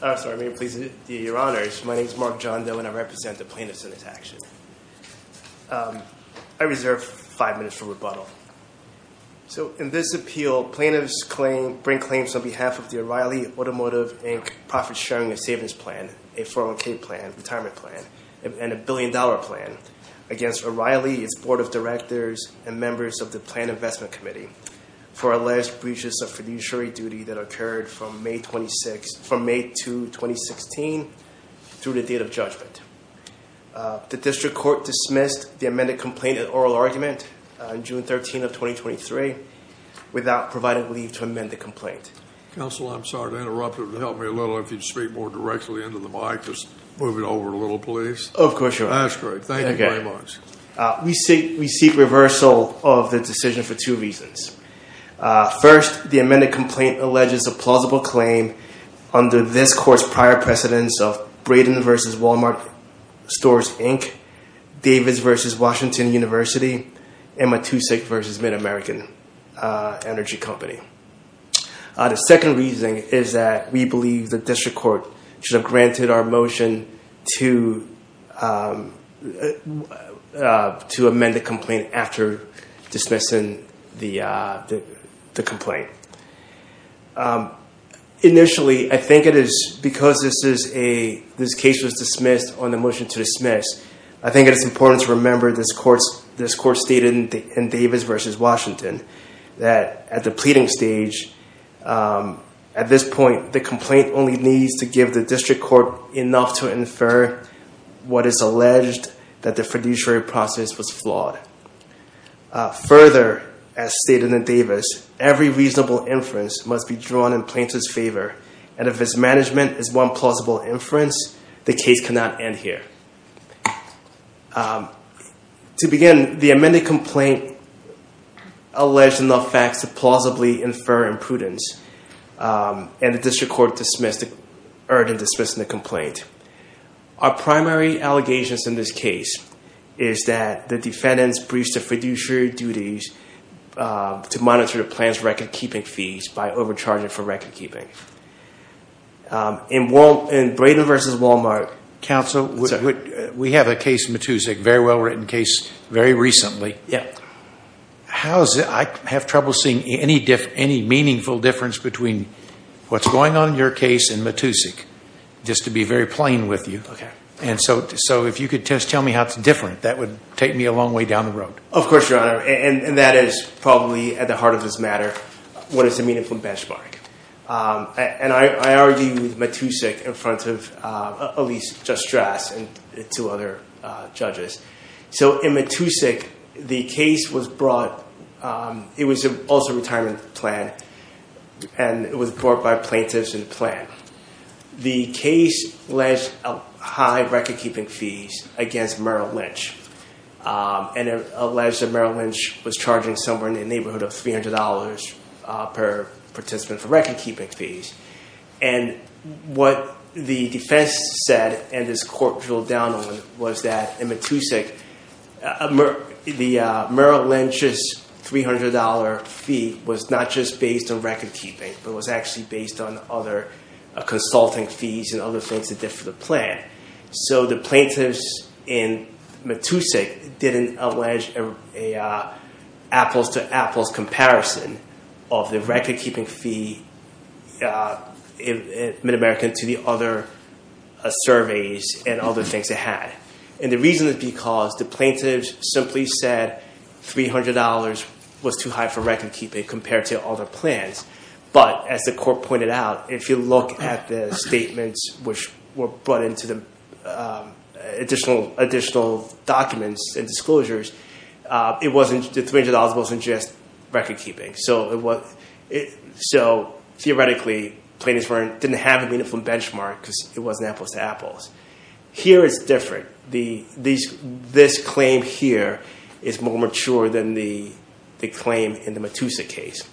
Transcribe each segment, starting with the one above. My name is Mark John Doe, and I represent the plaintiffs in this action. I reserve five minutes for rebuttal. So, in this appeal, plaintiffs bring claims on behalf of the O'Reilly Automotive, Inc. Profit Sharing and Savings Plan, a 401k plan, retirement plan, and a billion-dollar plan against O'Reilly, its board of directors, and members of the Planned Investment Committee for alleged breaches of fiduciary duty that occurred from May 2, 2016, through the date of judgment. The district court dismissed the amended complaint and oral argument on June 13, 2023, without providing leave to amend the complaint. Counsel, I'm sorry to interrupt, but it would help me a little if you'd speak more directly into the mic. Just move it over a little, please. Of course, Your Honor. That's great. Thank you very much. We seek reversal of the decision for two reasons. First, the amended complaint alleges a plausible claim under this Court's prior precedence of Braden v. Walmart Stores, Inc., Davis v. Washington University, and Matusik v. MidAmerican Energy Company. The second reason is that we believe the district court should have granted our motion to amend the complaint after dismissing the complaint. Initially, I think it is because this case was dismissed on the motion to dismiss, I think it is important to remember this Court stated in Davis v. Washington that at the pleading stage, at this point, the complaint only needs to give the district court enough to infer what is alleged that the fiduciary process was flawed. Further, as stated in Davis, every reasonable inference must be drawn in plaintiff's favor, and if its management is one plausible inference, the case cannot end here. To begin, the amended complaint alleged enough facts to plausibly infer imprudence, and the district court dismissed the complaint. Our primary allegations in this case is that the defendants breached the fiduciary duties to monitor the plan's record-keeping fees by overcharging for record-keeping. In Brayden v. Walmart, Counsel, we have a case, Matusik, a very well-written case, very recently. I have trouble seeing any meaningful difference between what is going on in your case and Matusik, just to be very plain with you. If you could just tell me how it is different, that would take me a long way down the road. Of course, Your Honor, and that is probably at the heart of this matter, what is the meaningful benchmark. I argue with Matusik in front of, at least, Judge Strass and two other judges. In Matusik, the case was brought, it was also a retirement plan, and it was brought by plaintiffs in the plan. The case alleged high record-keeping fees against Merrill Lynch, and alleged that Merrill Lynch was charging someone in the neighborhood of $300 per participant for record-keeping fees. What the defense said, and this court drilled down on, was that in Matusik, Merrill Lynch's $300 fee was not just based on record-keeping, but was actually based on other consulting fees and other things they did for the plan. So the plaintiffs in Matusik didn't allege an apples-to-apples comparison of the record-keeping fee in Mid-America to the other surveys and other things they had. And the reason is because the plaintiffs simply said $300 was too high for record-keeping compared to other plans. But, as the court pointed out, if you look at the statements which were brought into the additional documents and disclosures, the $300 wasn't just record-keeping. So, theoretically, plaintiffs didn't have a meaningful benchmark because it wasn't apples-to-apples. Here it's different. This claim here is more mature than the claim in the Matusik case.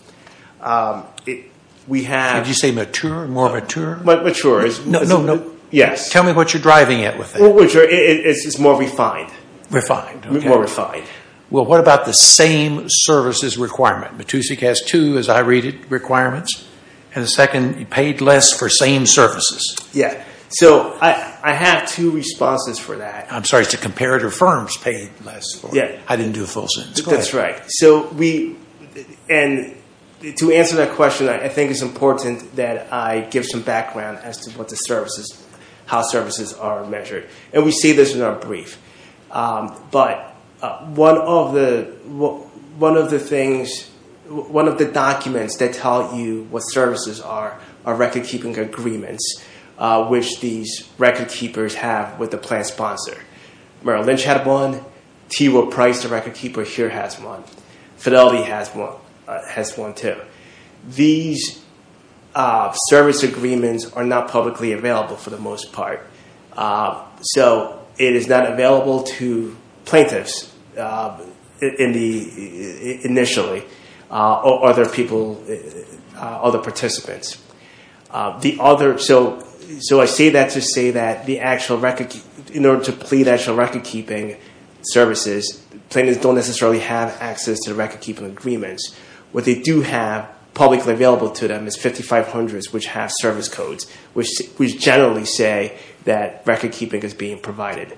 Did you say mature? More mature? No, no. Yes. Tell me what you're driving at with that. It's more refined. Refined. More refined. Well, what about the same services requirement? Matusik has two, as I read it, requirements. And the second, paid less for same services. Yes. So I have two responses for that. I'm sorry, it's the comparative firms paid less. Yes. I didn't do a full sentence. That's right. And to answer that question, I think it's important that I give some background as to how services are measured. And we see this in our brief. But one of the things, one of the documents that tell you what services are are record-keeping agreements, which these record-keepers have with the plan sponsor. Merrill Lynch had one. T. Will Price, the record-keeper here, has one. Fidelity has one too. These service agreements are not publicly available for the most part. So it is not available to plaintiffs initially or other people, other participants. So I say that to say that in order to plead actual record-keeping services, plaintiffs don't necessarily have access to the record-keeping agreements. What they do have publicly available to them is 5500s, which have service codes, which generally say that record-keeping is being provided.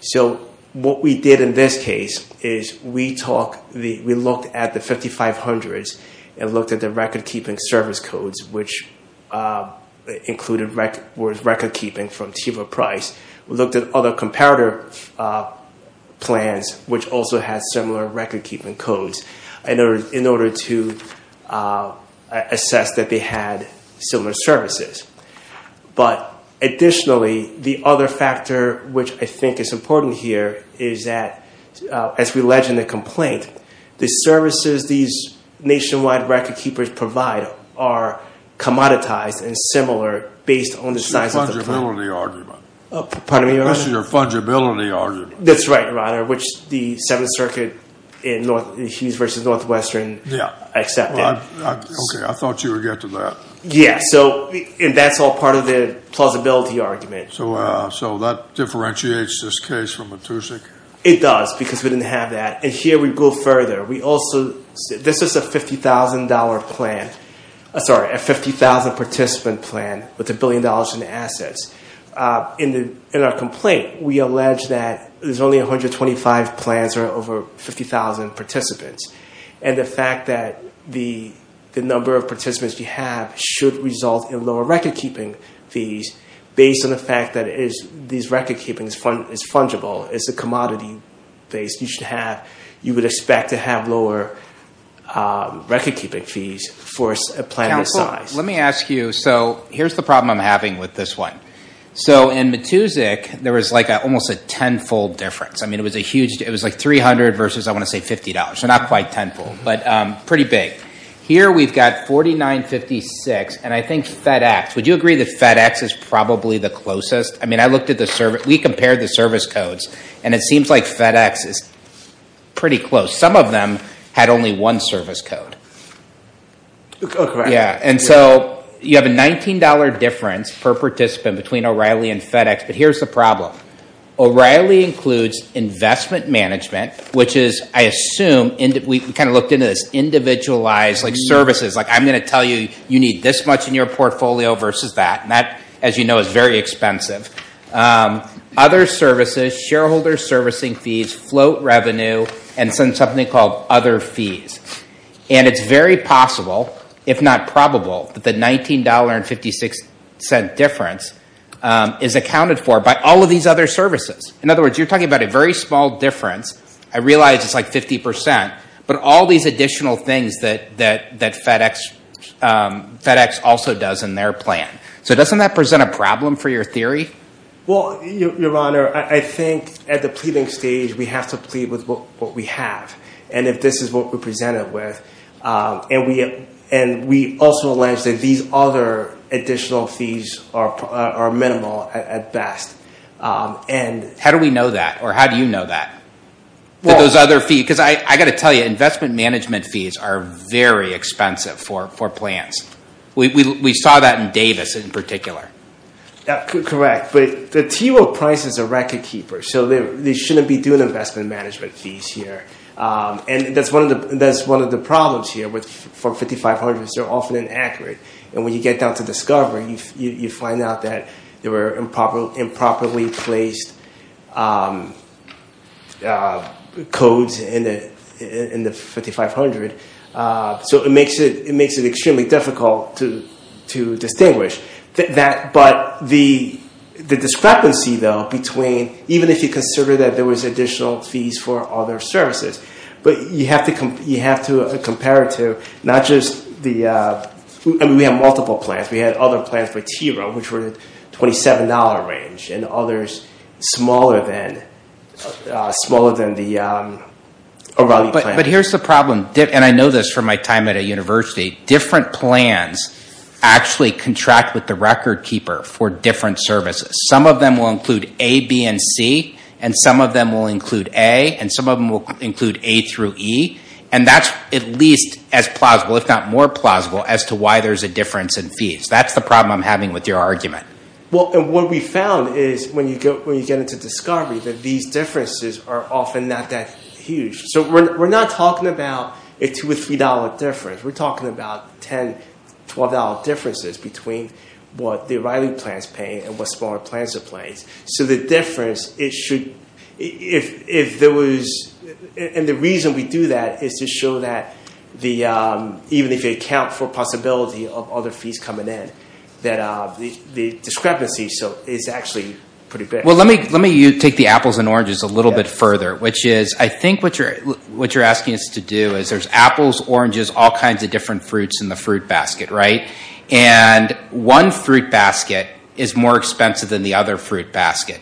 So what we did in this case is we looked at the 5500s and looked at the record-keeping service codes, which included record-keeping from T. Will Price. We looked at other comparator plans, which also had similar record-keeping codes, in order to assess that they had similar services. But additionally, the other factor which I think is important here is that, as we allege in the complaint, the services these nationwide record-keepers provide are commoditized and similar based on the size of the plan. This is a fungibility argument. Pardon me, Your Honor? This is a fungibility argument. That's right, Your Honor, which the Seventh Circuit in Hughes v. Northwestern accepted. Okay, I thought you would get to that. Yes, and that's all part of the plausibility argument. So that differentiates this case from Matusik? It does because we didn't have that. And here we go further. This is a $50,000 participant plan with $1 billion in assets. In our complaint, we allege that there's only 125 plans or over 50,000 participants, and the fact that the number of participants we have should result in lower record-keeping fees based on the fact that these record-keepings is fungible, it's a commodity-based, you should have, you would expect to have lower record-keeping fees for a plan this size. Counsel, let me ask you, so here's the problem I'm having with this one. So in Matusik, there was like almost a tenfold difference. I mean, it was a huge, it was like $300 versus, I want to say, $50, so not quite tenfold, but pretty big. Here we've got $49.56, and I think FedEx, would you agree that FedEx is probably the closest? I mean, I looked at the service, we compared the service codes, and it seems like FedEx is pretty close. Some of them had only one service code. And so you have a $19 difference per participant between O'Reilly and FedEx, but here's the problem. O'Reilly includes investment management, which is, I assume, we kind of looked into this, individualized services. Like, I'm going to tell you, you need this much in your portfolio versus that, and that, as you know, is very expensive. Other services, shareholder servicing fees, float revenue, and then something called other fees. And it's very possible, if not probable, that the $19.56 difference is accounted for by all of these other services. In other words, you're talking about a very small difference. I realize it's like 50%, but all these additional things that FedEx also does in their plan. So doesn't that present a problem for your theory? Well, Your Honor, I think at the pleading stage, we have to plead with what we have, and if this is what we're presented with. And we also allege that these other additional fees are minimal at best. How do we know that, or how do you know that? Because I've got to tell you, investment management fees are very expensive for plans. We saw that in Davis in particular. Correct, but the TRO price is a record keeper, so they shouldn't be doing investment management fees here. And that's one of the problems here for 5500s. They're often inaccurate, and when you get down to discovery, you find out that there were improperly placed codes in the 5500. So it makes it extremely difficult to distinguish. But the discrepancy, though, between even if you consider that there was additional fees for other services, but you have to compare it to not just the – I mean, we have multiple plans. We had other plans for TRO, which were $27 range, and others smaller than the O'Reilly plan. But here's the problem, and I know this from my time at a university. Different plans actually contract with the record keeper for different services. Some of them will include A, B, and C, and some of them will include A, and some of them will include A through E. And that's at least as plausible, if not more plausible, as to why there's a difference in fees. That's the problem I'm having with your argument. Well, and what we found is when you get into discovery that these differences are often not that huge. So we're not talking about a $2 or $3 difference. We're talking about $10, $12 differences between what the O'Reilly plans pay and what smaller plans are paying. So the difference, it should – if there was – and the reason we do that is to show that the – even if you account for possibility of other fees coming in, that the discrepancy is actually pretty big. Well, let me take the apples and oranges a little bit further, which is I think what you're asking us to do is there's apples, oranges, all kinds of different fruits in the fruit basket, right? And one fruit basket is more expensive than the other fruit basket.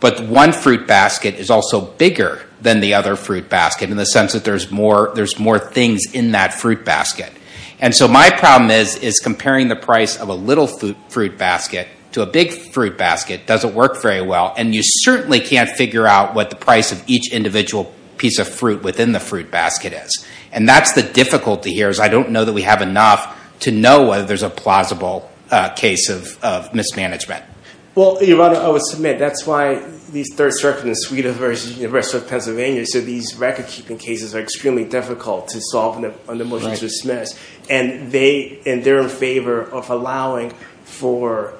But one fruit basket is also bigger than the other fruit basket in the sense that there's more things in that fruit basket. And so my problem is comparing the price of a little fruit basket to a big fruit basket doesn't work very well, and you certainly can't figure out what the price of each individual piece of fruit within the fruit basket is. And that's the difficulty here is I don't know that we have enough to know whether there's a plausible case of mismanagement. Well, Your Honor, I would submit that's why these Third Circuit in Sweden versus the University of Pennsylvania, so these record-keeping cases are extremely difficult to solve under motions to dismiss. And they – and they're in favor of allowing for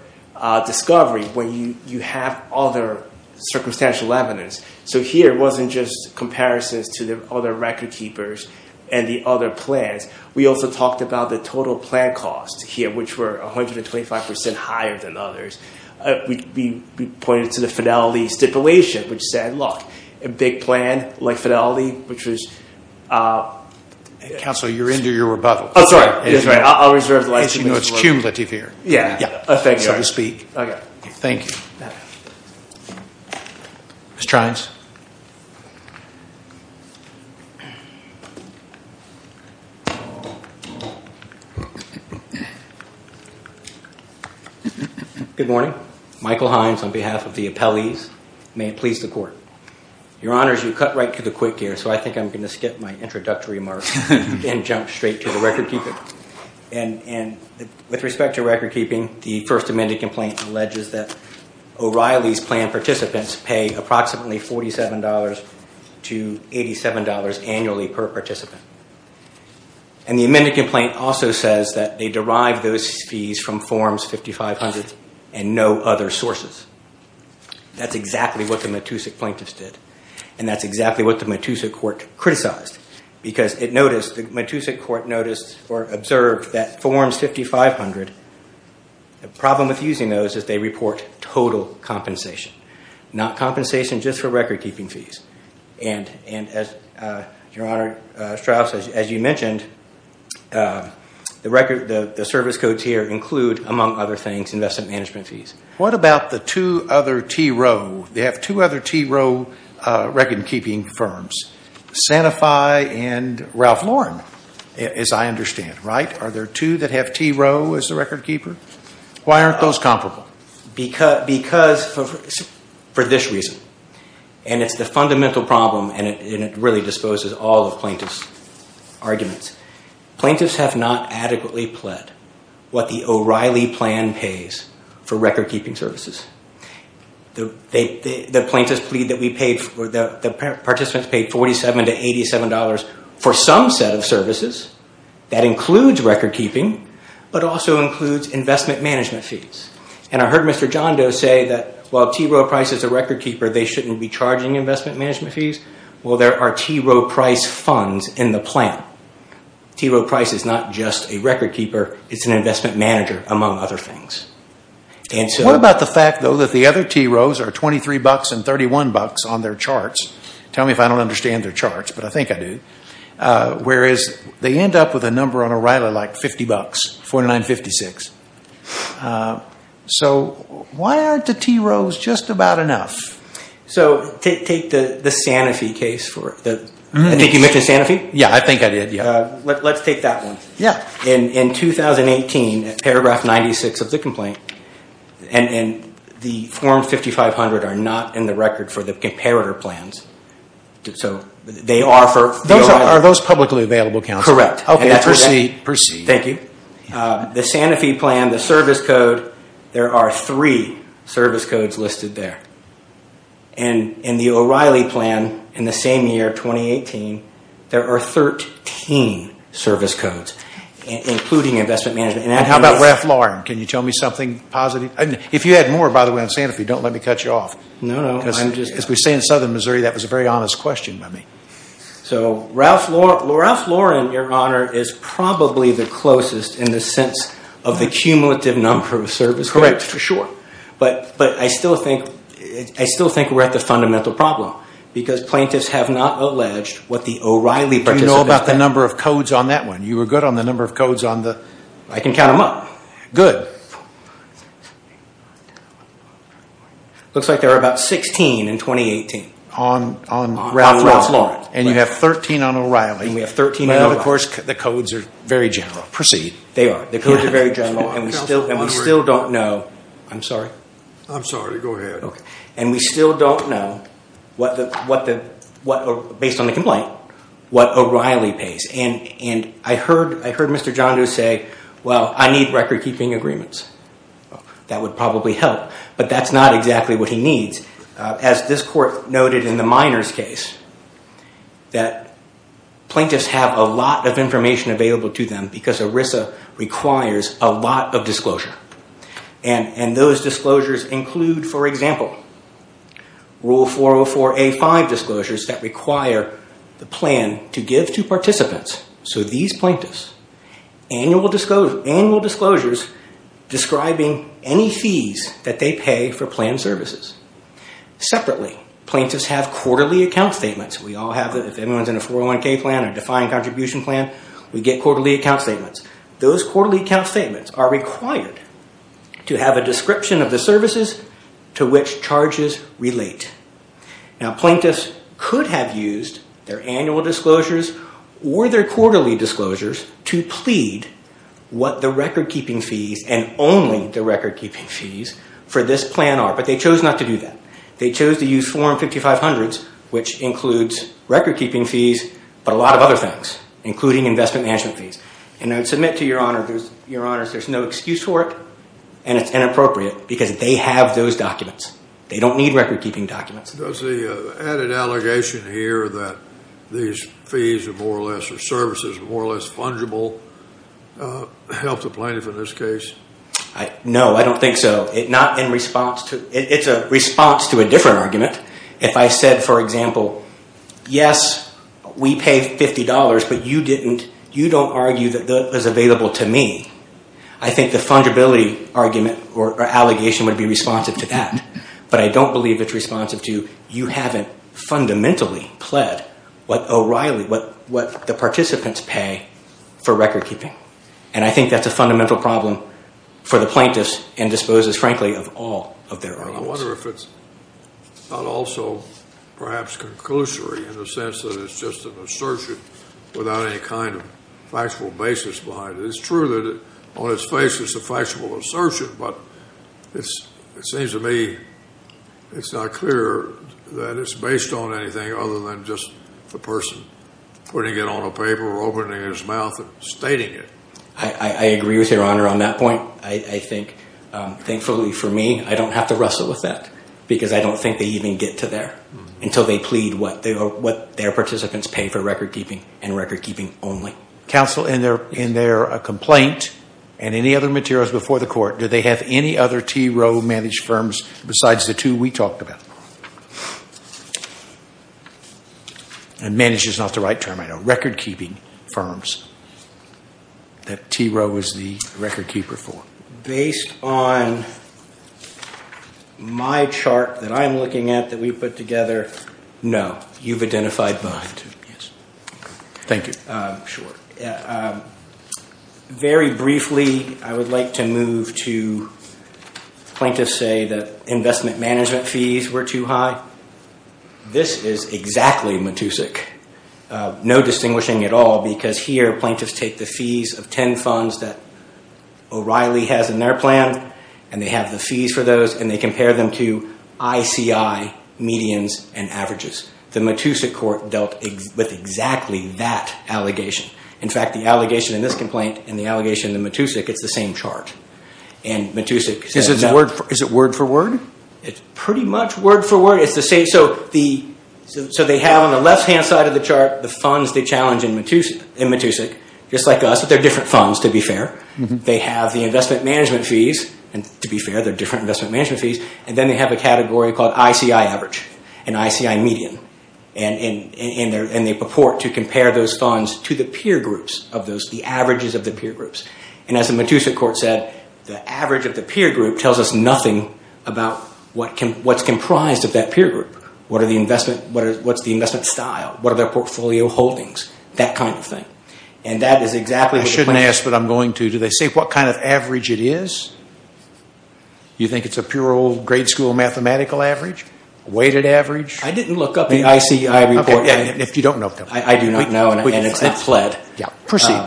discovery when you have other circumstantial evidence. So here, it wasn't just comparisons to the other record-keepers and the other plans. We also talked about the total plan costs here, which were 125 percent higher than others. We pointed to the fidelity stipulation, which said, look, a big plan like fidelity, which was – Counsel, you're into your rebuttal. Oh, sorry. I'll reserve the license. No, it's cumulative here. Yeah, yeah. So to speak. Okay. Thank you. Mr. Hines. Good morning. Michael Hines on behalf of the appellees. May it please the Court. Your Honors, you cut right to the quick here, so I think I'm going to skip my introductory remarks and jump straight to the record-keeping. And with respect to record-keeping, the first amended complaint alleges that O'Reilly's plan participants pay approximately $47 to $87 annually per participant. And the amended complaint also says that they derived those fees from Forms 5500 and no other sources. That's exactly what the Matusik plaintiffs did. And that's exactly what the Matusik Court criticized. Because it noticed – the Matusik Court noticed or observed that Forms 5500, the problem with using those is they report total compensation, not compensation just for record-keeping fees. And, Your Honor, Strauss, as you mentioned, the record – the service codes here include, among other things, investment management fees. What about the two other TRO? They have two other TRO record-keeping firms. Sanofi and Ralph Lauren, as I understand, right? Are there two that have TRO as the record-keeper? Why aren't those comparable? Because – for this reason. And it's the fundamental problem, and it really disposes all of plaintiffs' arguments. Plaintiffs have not adequately pled what the O'Reilly plan pays for record-keeping services. The plaintiffs plead that we paid – or the participants paid $47 to $87 for some set of services. That includes record-keeping, but also includes investment management fees. And I heard Mr. Johndo say that while TRO Price is a record-keeper, they shouldn't be charging investment management fees. Well, there are TRO Price funds in the plan. TRO Price is not just a record-keeper. It's an investment manager, among other things. What about the fact, though, that the other TROs are $23 and $31 on their charts? Tell me if I don't understand their charts, but I think I do. Whereas they end up with a number on O'Reilly like $50, $49.56. So why aren't the TROs just about enough? So take the Sanofi case. I think you mentioned Sanofi? Yeah, I think I did, yeah. Let's take that one. In 2018, paragraph 96 of the complaint, and the form 5500 are not in the record for the comparator plans. So they are for the O'Reilly. Are those publicly available, counsel? Correct. Okay, proceed. Thank you. The Sanofi plan, the service code, there are three service codes listed there. In the O'Reilly plan, in the same year, 2018, there are 13 service codes, including investment management. How about Ralph Lauren? Can you tell me something positive? If you had more, by the way, on Sanofi, don't let me cut you off. No, no. As we say in southern Missouri, that was a very honest question by me. So Ralph Lauren, Your Honor, is probably the closest in the sense of the cumulative number of service codes. Correct, for sure. But I still think we're at the fundamental problem, because plaintiffs have not alleged what the O'Reilly participant said. You know about the number of codes on that one. You were good on the number of codes on the… I can count them up. Good. Looks like there are about 16 in 2018. On Ralph Lauren. And you have 13 on O'Reilly. And we have 13 in O'Reilly. Well, of course, the codes are very general. Proceed. They are. The codes are very general, and we still don't know… I'm sorry. I'm sorry. Go ahead. And we still don't know, based on the complaint, what O'Reilly pays. And I heard Mr. John do say, well, I need record-keeping agreements. That would probably help, but that's not exactly what he needs. As this court noted in the minors case, that plaintiffs have a lot of information available to them, because ERISA requires a lot of disclosure. And those disclosures include, for example, Rule 404A-5 disclosures that require the plan to give to participants. So these plaintiffs, annual disclosures describing any fees that they pay for planned services. Separately, plaintiffs have quarterly account statements. We all have them. If anyone's in a 401k plan or defined contribution plan, we get quarterly account statements. Those quarterly account statements are required to have a description of the services to which charges relate. Now, plaintiffs could have used their annual disclosures or their quarterly disclosures to plead what the record-keeping fees and only the record-keeping fees for this plan are, but they chose not to do that. They chose to use Form 5500s, which includes record-keeping fees, but a lot of other things, including investment management fees. And I'd submit to Your Honors there's no excuse for it, and it's inappropriate, because they have those documents. They don't need record-keeping documents. Does the added allegation here that these fees are more or less, or services are more or less fungible, help the plaintiff in this case? No, I don't think so. It's a response to a different argument. If I said, for example, yes, we pay $50, but you don't argue that that is available to me, I think the fungibility argument or allegation would be responsive to that. But I don't believe it's responsive to you haven't fundamentally pled what O'Reilly, what the participants pay for record-keeping. And I think that's a fundamental problem for the plaintiffs and disposes, frankly, of all of their arguments. I wonder if it's not also perhaps conclusory in the sense that it's just an assertion without any kind of factual basis behind it. It's true that on its face it's a factual assertion, but it seems to me it's not clear that it's based on anything other than just the person putting it on a paper or opening his mouth and stating it. I agree with Your Honor on that point. I think, thankfully for me, I don't have to wrestle with that, because I don't think they even get to there until they plead what their participants pay for record-keeping and record-keeping only. Counsel, in their complaint and any other materials before the court, do they have any other T. Rowe managed firms besides the two we talked about? And managed is not the right term, I know. Record-keeping firms that T. Rowe was the record-keeper for. Based on my chart that I'm looking at that we put together, no. You've identified mine, too. Thank you. Very briefly, I would like to move to plaintiffs say that investment management fees were too high. This is exactly matusik, no distinguishing at all, because here plaintiffs take the fees of 10 funds that O'Reilly has in their plan, and they have the fees for those, and they compare them to ICI medians and averages. The matusik court dealt with exactly that allegation. In fact, the allegation in this complaint and the allegation in the matusik, it's the same chart. Is it word for word? It's pretty much word for word. They have on the left-hand side of the chart the funds they challenge in matusik, just like us, but they're different funds, to be fair. They have the investment management fees, and to be fair, they're different investment management fees. Then they have a category called ICI average and ICI median, and they purport to compare those funds to the peer groups, the averages of the peer groups. As the matusik court said, the average of the peer group tells us nothing about what's comprised of that peer group. What's the investment style? What are their portfolio holdings? That kind of thing. I shouldn't ask, but I'm going to. Do they say what kind of average it is? Do you think it's a pure old grade school mathematical average, weighted average? I didn't look up the ICI report. If you don't know, tell me. I do not know, and it's not pled. Proceed.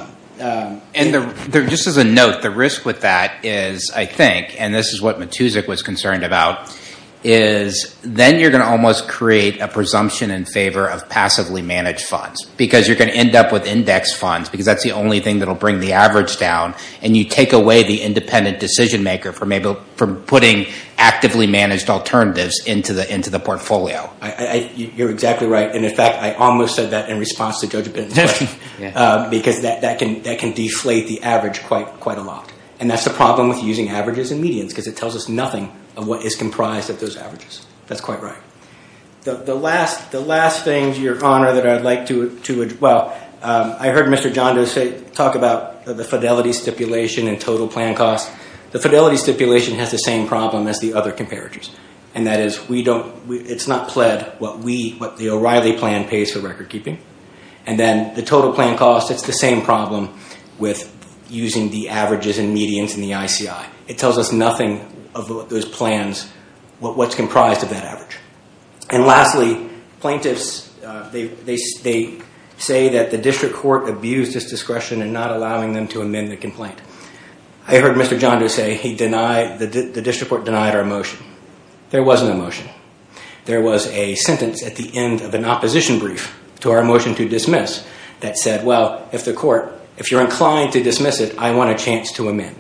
Just as a note, the risk with that is, I think, and this is what matusik was concerned about, is then you're going to almost create a presumption in favor of passively managed funds because you're going to end up with index funds because that's the only thing that will bring the average down, and you take away the independent decision maker from putting actively managed alternatives into the portfolio. You're exactly right. In fact, I almost said that in response to Judge Benton's question because that can deflate the average quite a lot, and that's the problem with using averages and medians because it tells us nothing of what is comprised of those averages. That's quite right. The last thing, Your Honor, that I'd like to address, well, I heard Mr. Janda talk about the fidelity stipulation and total plan costs. The fidelity stipulation has the same problem as the other comparators, and that is it's not pled what the O'Reilly plan pays for recordkeeping, and then the total plan costs, it's the same problem with using the averages and medians in the ICI. It tells us nothing of those plans, what's comprised of that average. And lastly, plaintiffs, they say that the district court abused its discretion in not allowing them to amend the complaint. I heard Mr. Janda say the district court denied our motion. There was no motion. There was a sentence at the end of an opposition brief to our motion to dismiss that said, well, if the court, if you're inclined to dismiss it, I want a chance to amend.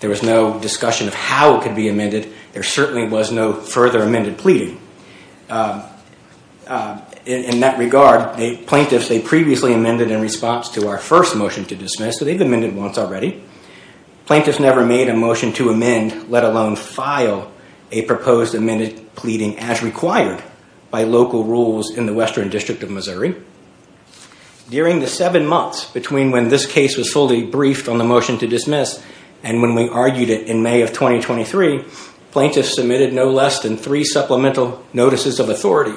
There was no discussion of how it could be amended. There certainly was no further amended pleading. In that regard, plaintiffs, they previously amended in response to our first motion to dismiss, so they've amended once already. Plaintiffs never made a motion to amend, let alone file a proposed amended pleading as required by local rules in the Western District of Missouri. During the seven months between when this case was fully briefed on the motion to dismiss and when we argued it in May of 2023, plaintiffs submitted no less than three supplemental notices of authority,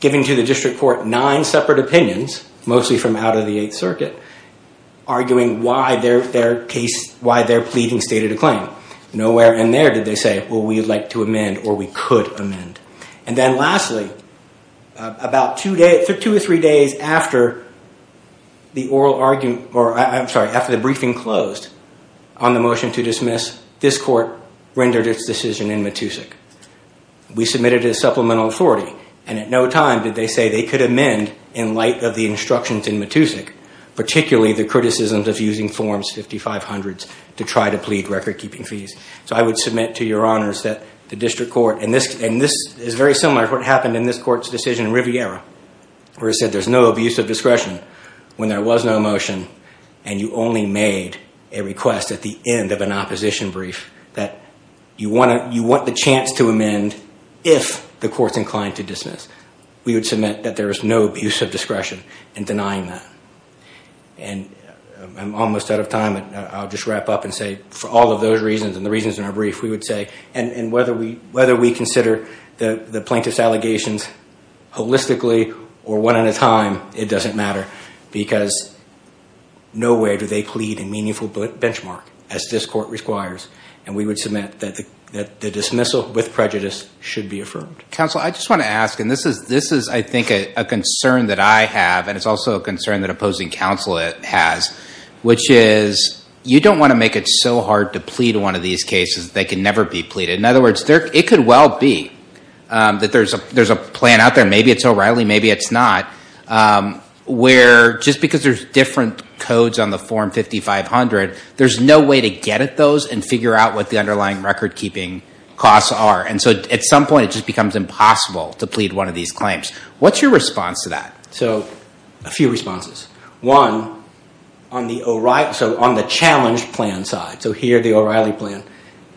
giving to the district court nine separate opinions, mostly from out of the Eighth Circuit, arguing why their pleading stated a claim. Nowhere in there did they say, well, we'd like to amend or we could amend. And then lastly, about two or three days after the oral argument, or I'm sorry, after the briefing closed on the motion to dismiss, this court rendered its decision in Matusik. We submitted a supplemental authority, and at no time did they say they could amend in light of the instructions in Matusik, particularly the criticisms of using Forms 5500 to try to plead record-keeping fees. So I would submit to your honors that the district court, and this is very similar to what happened in this court's decision in Riviera, where it said there's no abuse of discretion when there was no motion and you only made a request at the end of an opposition brief that you want the chance to amend if the court's inclined to dismiss. We would submit that there is no abuse of discretion in denying that. And I'm almost out of time. I'll just wrap up and say for all of those reasons and the reasons in our brief, we would say, and whether we consider the plaintiff's allegations holistically or one at a time, it doesn't matter, because nowhere do they plead a meaningful benchmark, as this court requires. And we would submit that the dismissal with prejudice should be affirmed. Counsel, I just want to ask, and this is, I think, a concern that I have, and it's also a concern that opposing counsel has, which is you don't want to make it so hard to plead one of these cases that they can never be pleaded. In other words, it could well be that there's a plan out there, maybe it's O'Reilly, maybe it's not, where just because there's different codes on the form 5500, there's no way to get at those and figure out what the underlying record-keeping costs are. And so at some point it just becomes impossible to plead one of these claims. What's your response to that? So a few responses. One, on the challenge plan side, so here the O'Reilly plan,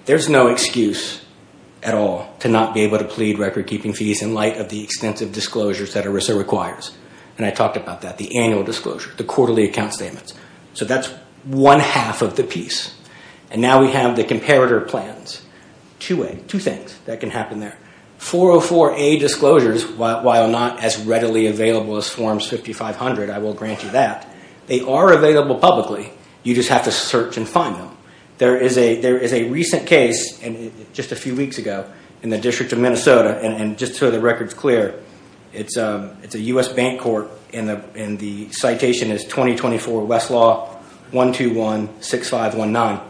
there's no excuse at all to not be able to plead record-keeping fees in light of the extensive disclosures that ERISA requires. And I talked about that, the annual disclosure, the quarterly account statements. So that's one half of the piece. And now we have the comparator plans, 2A, two things that can happen there. 404A disclosures, while not as readily available as Forms 5500, I will grant you that, they are available publicly. You just have to search and find them. There is a recent case just a few weeks ago in the District of Minnesota, and just so the record's clear, it's a U.S. bank court, and the citation is 2024 Westlaw 1216519.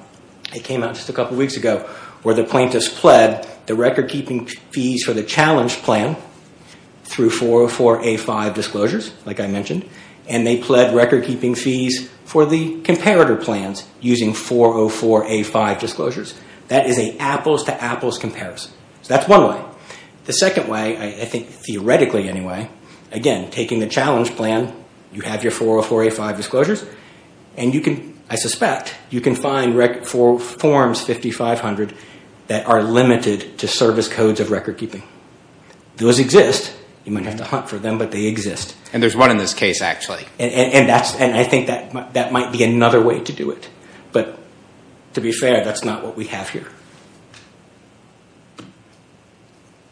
It came out just a couple weeks ago where the plaintiffs pled the record-keeping fees for the challenge plan through 404A5 disclosures, like I mentioned, and they pled record-keeping fees for the comparator plans using 404A5 disclosures. That is an apples-to-apples comparison. So that's one way. The second way, I think theoretically anyway, again, taking the challenge plan, you have your 404A5 disclosures, and you can, I suspect, you can find Forms 5500 that are limited to service codes of record-keeping. Those exist. You might have to hunt for them, but they exist. And there's one in this case, actually. And I think that might be another way to do it. But to be fair, that's not what we have here.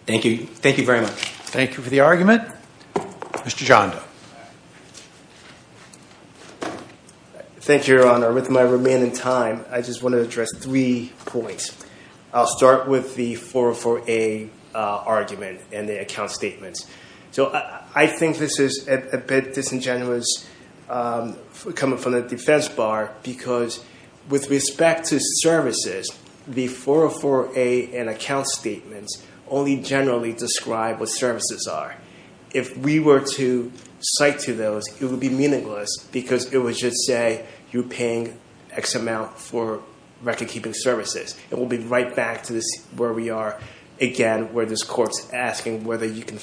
Thank you. Thank you very much. Thank you for the argument. Mr. Janda. Thank you, Your Honor. With my remaining time, I just want to address three points. I'll start with the 404A argument and the account statements. So I think this is a bit disingenuous coming from the defense bar, because with respect to services, the 404A and account statements only generally describe what services are. If we were to cite to those, it would be meaningless, because it would just say you're paying X amount for record-keeping services. And we'll be right back to where we are, again, where this court's asking whether you can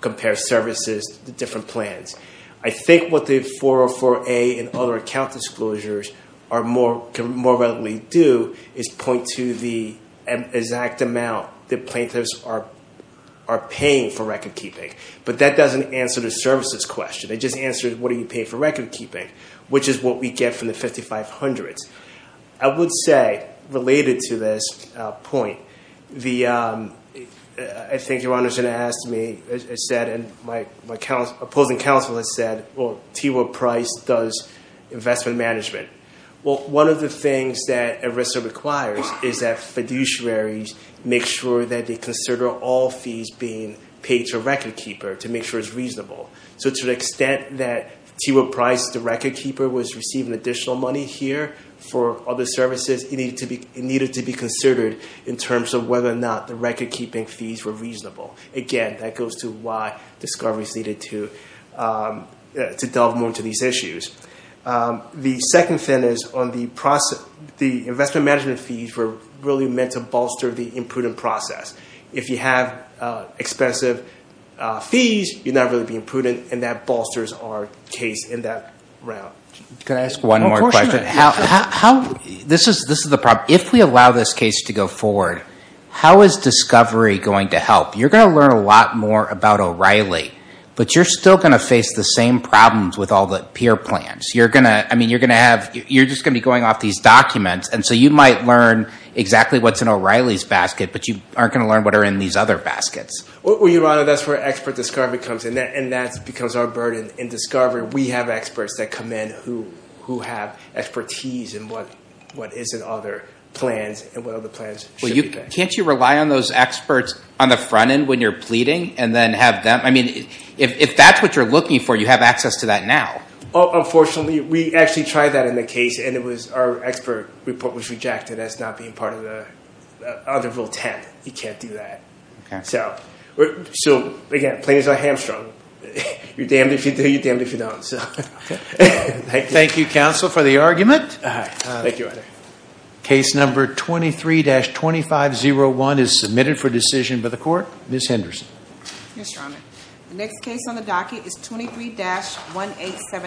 compare services to different plans. I think what the 404A and other account disclosures can more readily do is point to the exact amount that plaintiffs are paying for record-keeping. But that doesn't answer the services question. It just answers what are you paying for record-keeping, which is what we get from the 5500s. I would say, related to this point, I think Your Honor's going to ask me, and my opposing counsel has said, well, T. Will Price does investment management. Well, one of the things that ERISA requires is that fiduciaries make sure that they consider all fees being paid to a record-keeper to make sure it's reasonable. So to the extent that T. Will Price, the record-keeper, was receiving additional money here for other services, it needed to be considered in terms of whether or not the record-keeping fees were reasonable. Again, that goes to why discoveries needed to delve more into these issues. The second thing is, the investment management fees were really meant to bolster the imprudent process. If you have expensive fees, you're not really being prudent, and that bolsters our case in that round. Can I ask one more question? This is the problem. If we allow this case to go forward, how is discovery going to help? You're going to learn a lot more about O'Reilly, but you're still going to face the same problems with all the peer plans. You're just going to be going off these documents, and so you might learn exactly what's in O'Reilly's basket, but you aren't going to learn what are in these other baskets. Your Honor, that's where expert discovery comes in, and that becomes our burden in discovery. We have experts that come in who have expertise in what is in other plans and what other plans should be there. Can't you rely on those experts on the front end when you're pleading and then have them? I mean, if that's what you're looking for, you have access to that now. Unfortunately, we actually tried that in the case, and our expert report was rejected as not being part of the other rule 10. You can't do that. So, again, plain as a hamstrung, you're damned if you do, you're damned if you don't. Thank you, counsel, for the argument. Thank you, Your Honor. Case number 23-2501 is submitted for decision by the court. Ms. Henderson. Yes, Your Honor. The next case on the docket is 23-1878.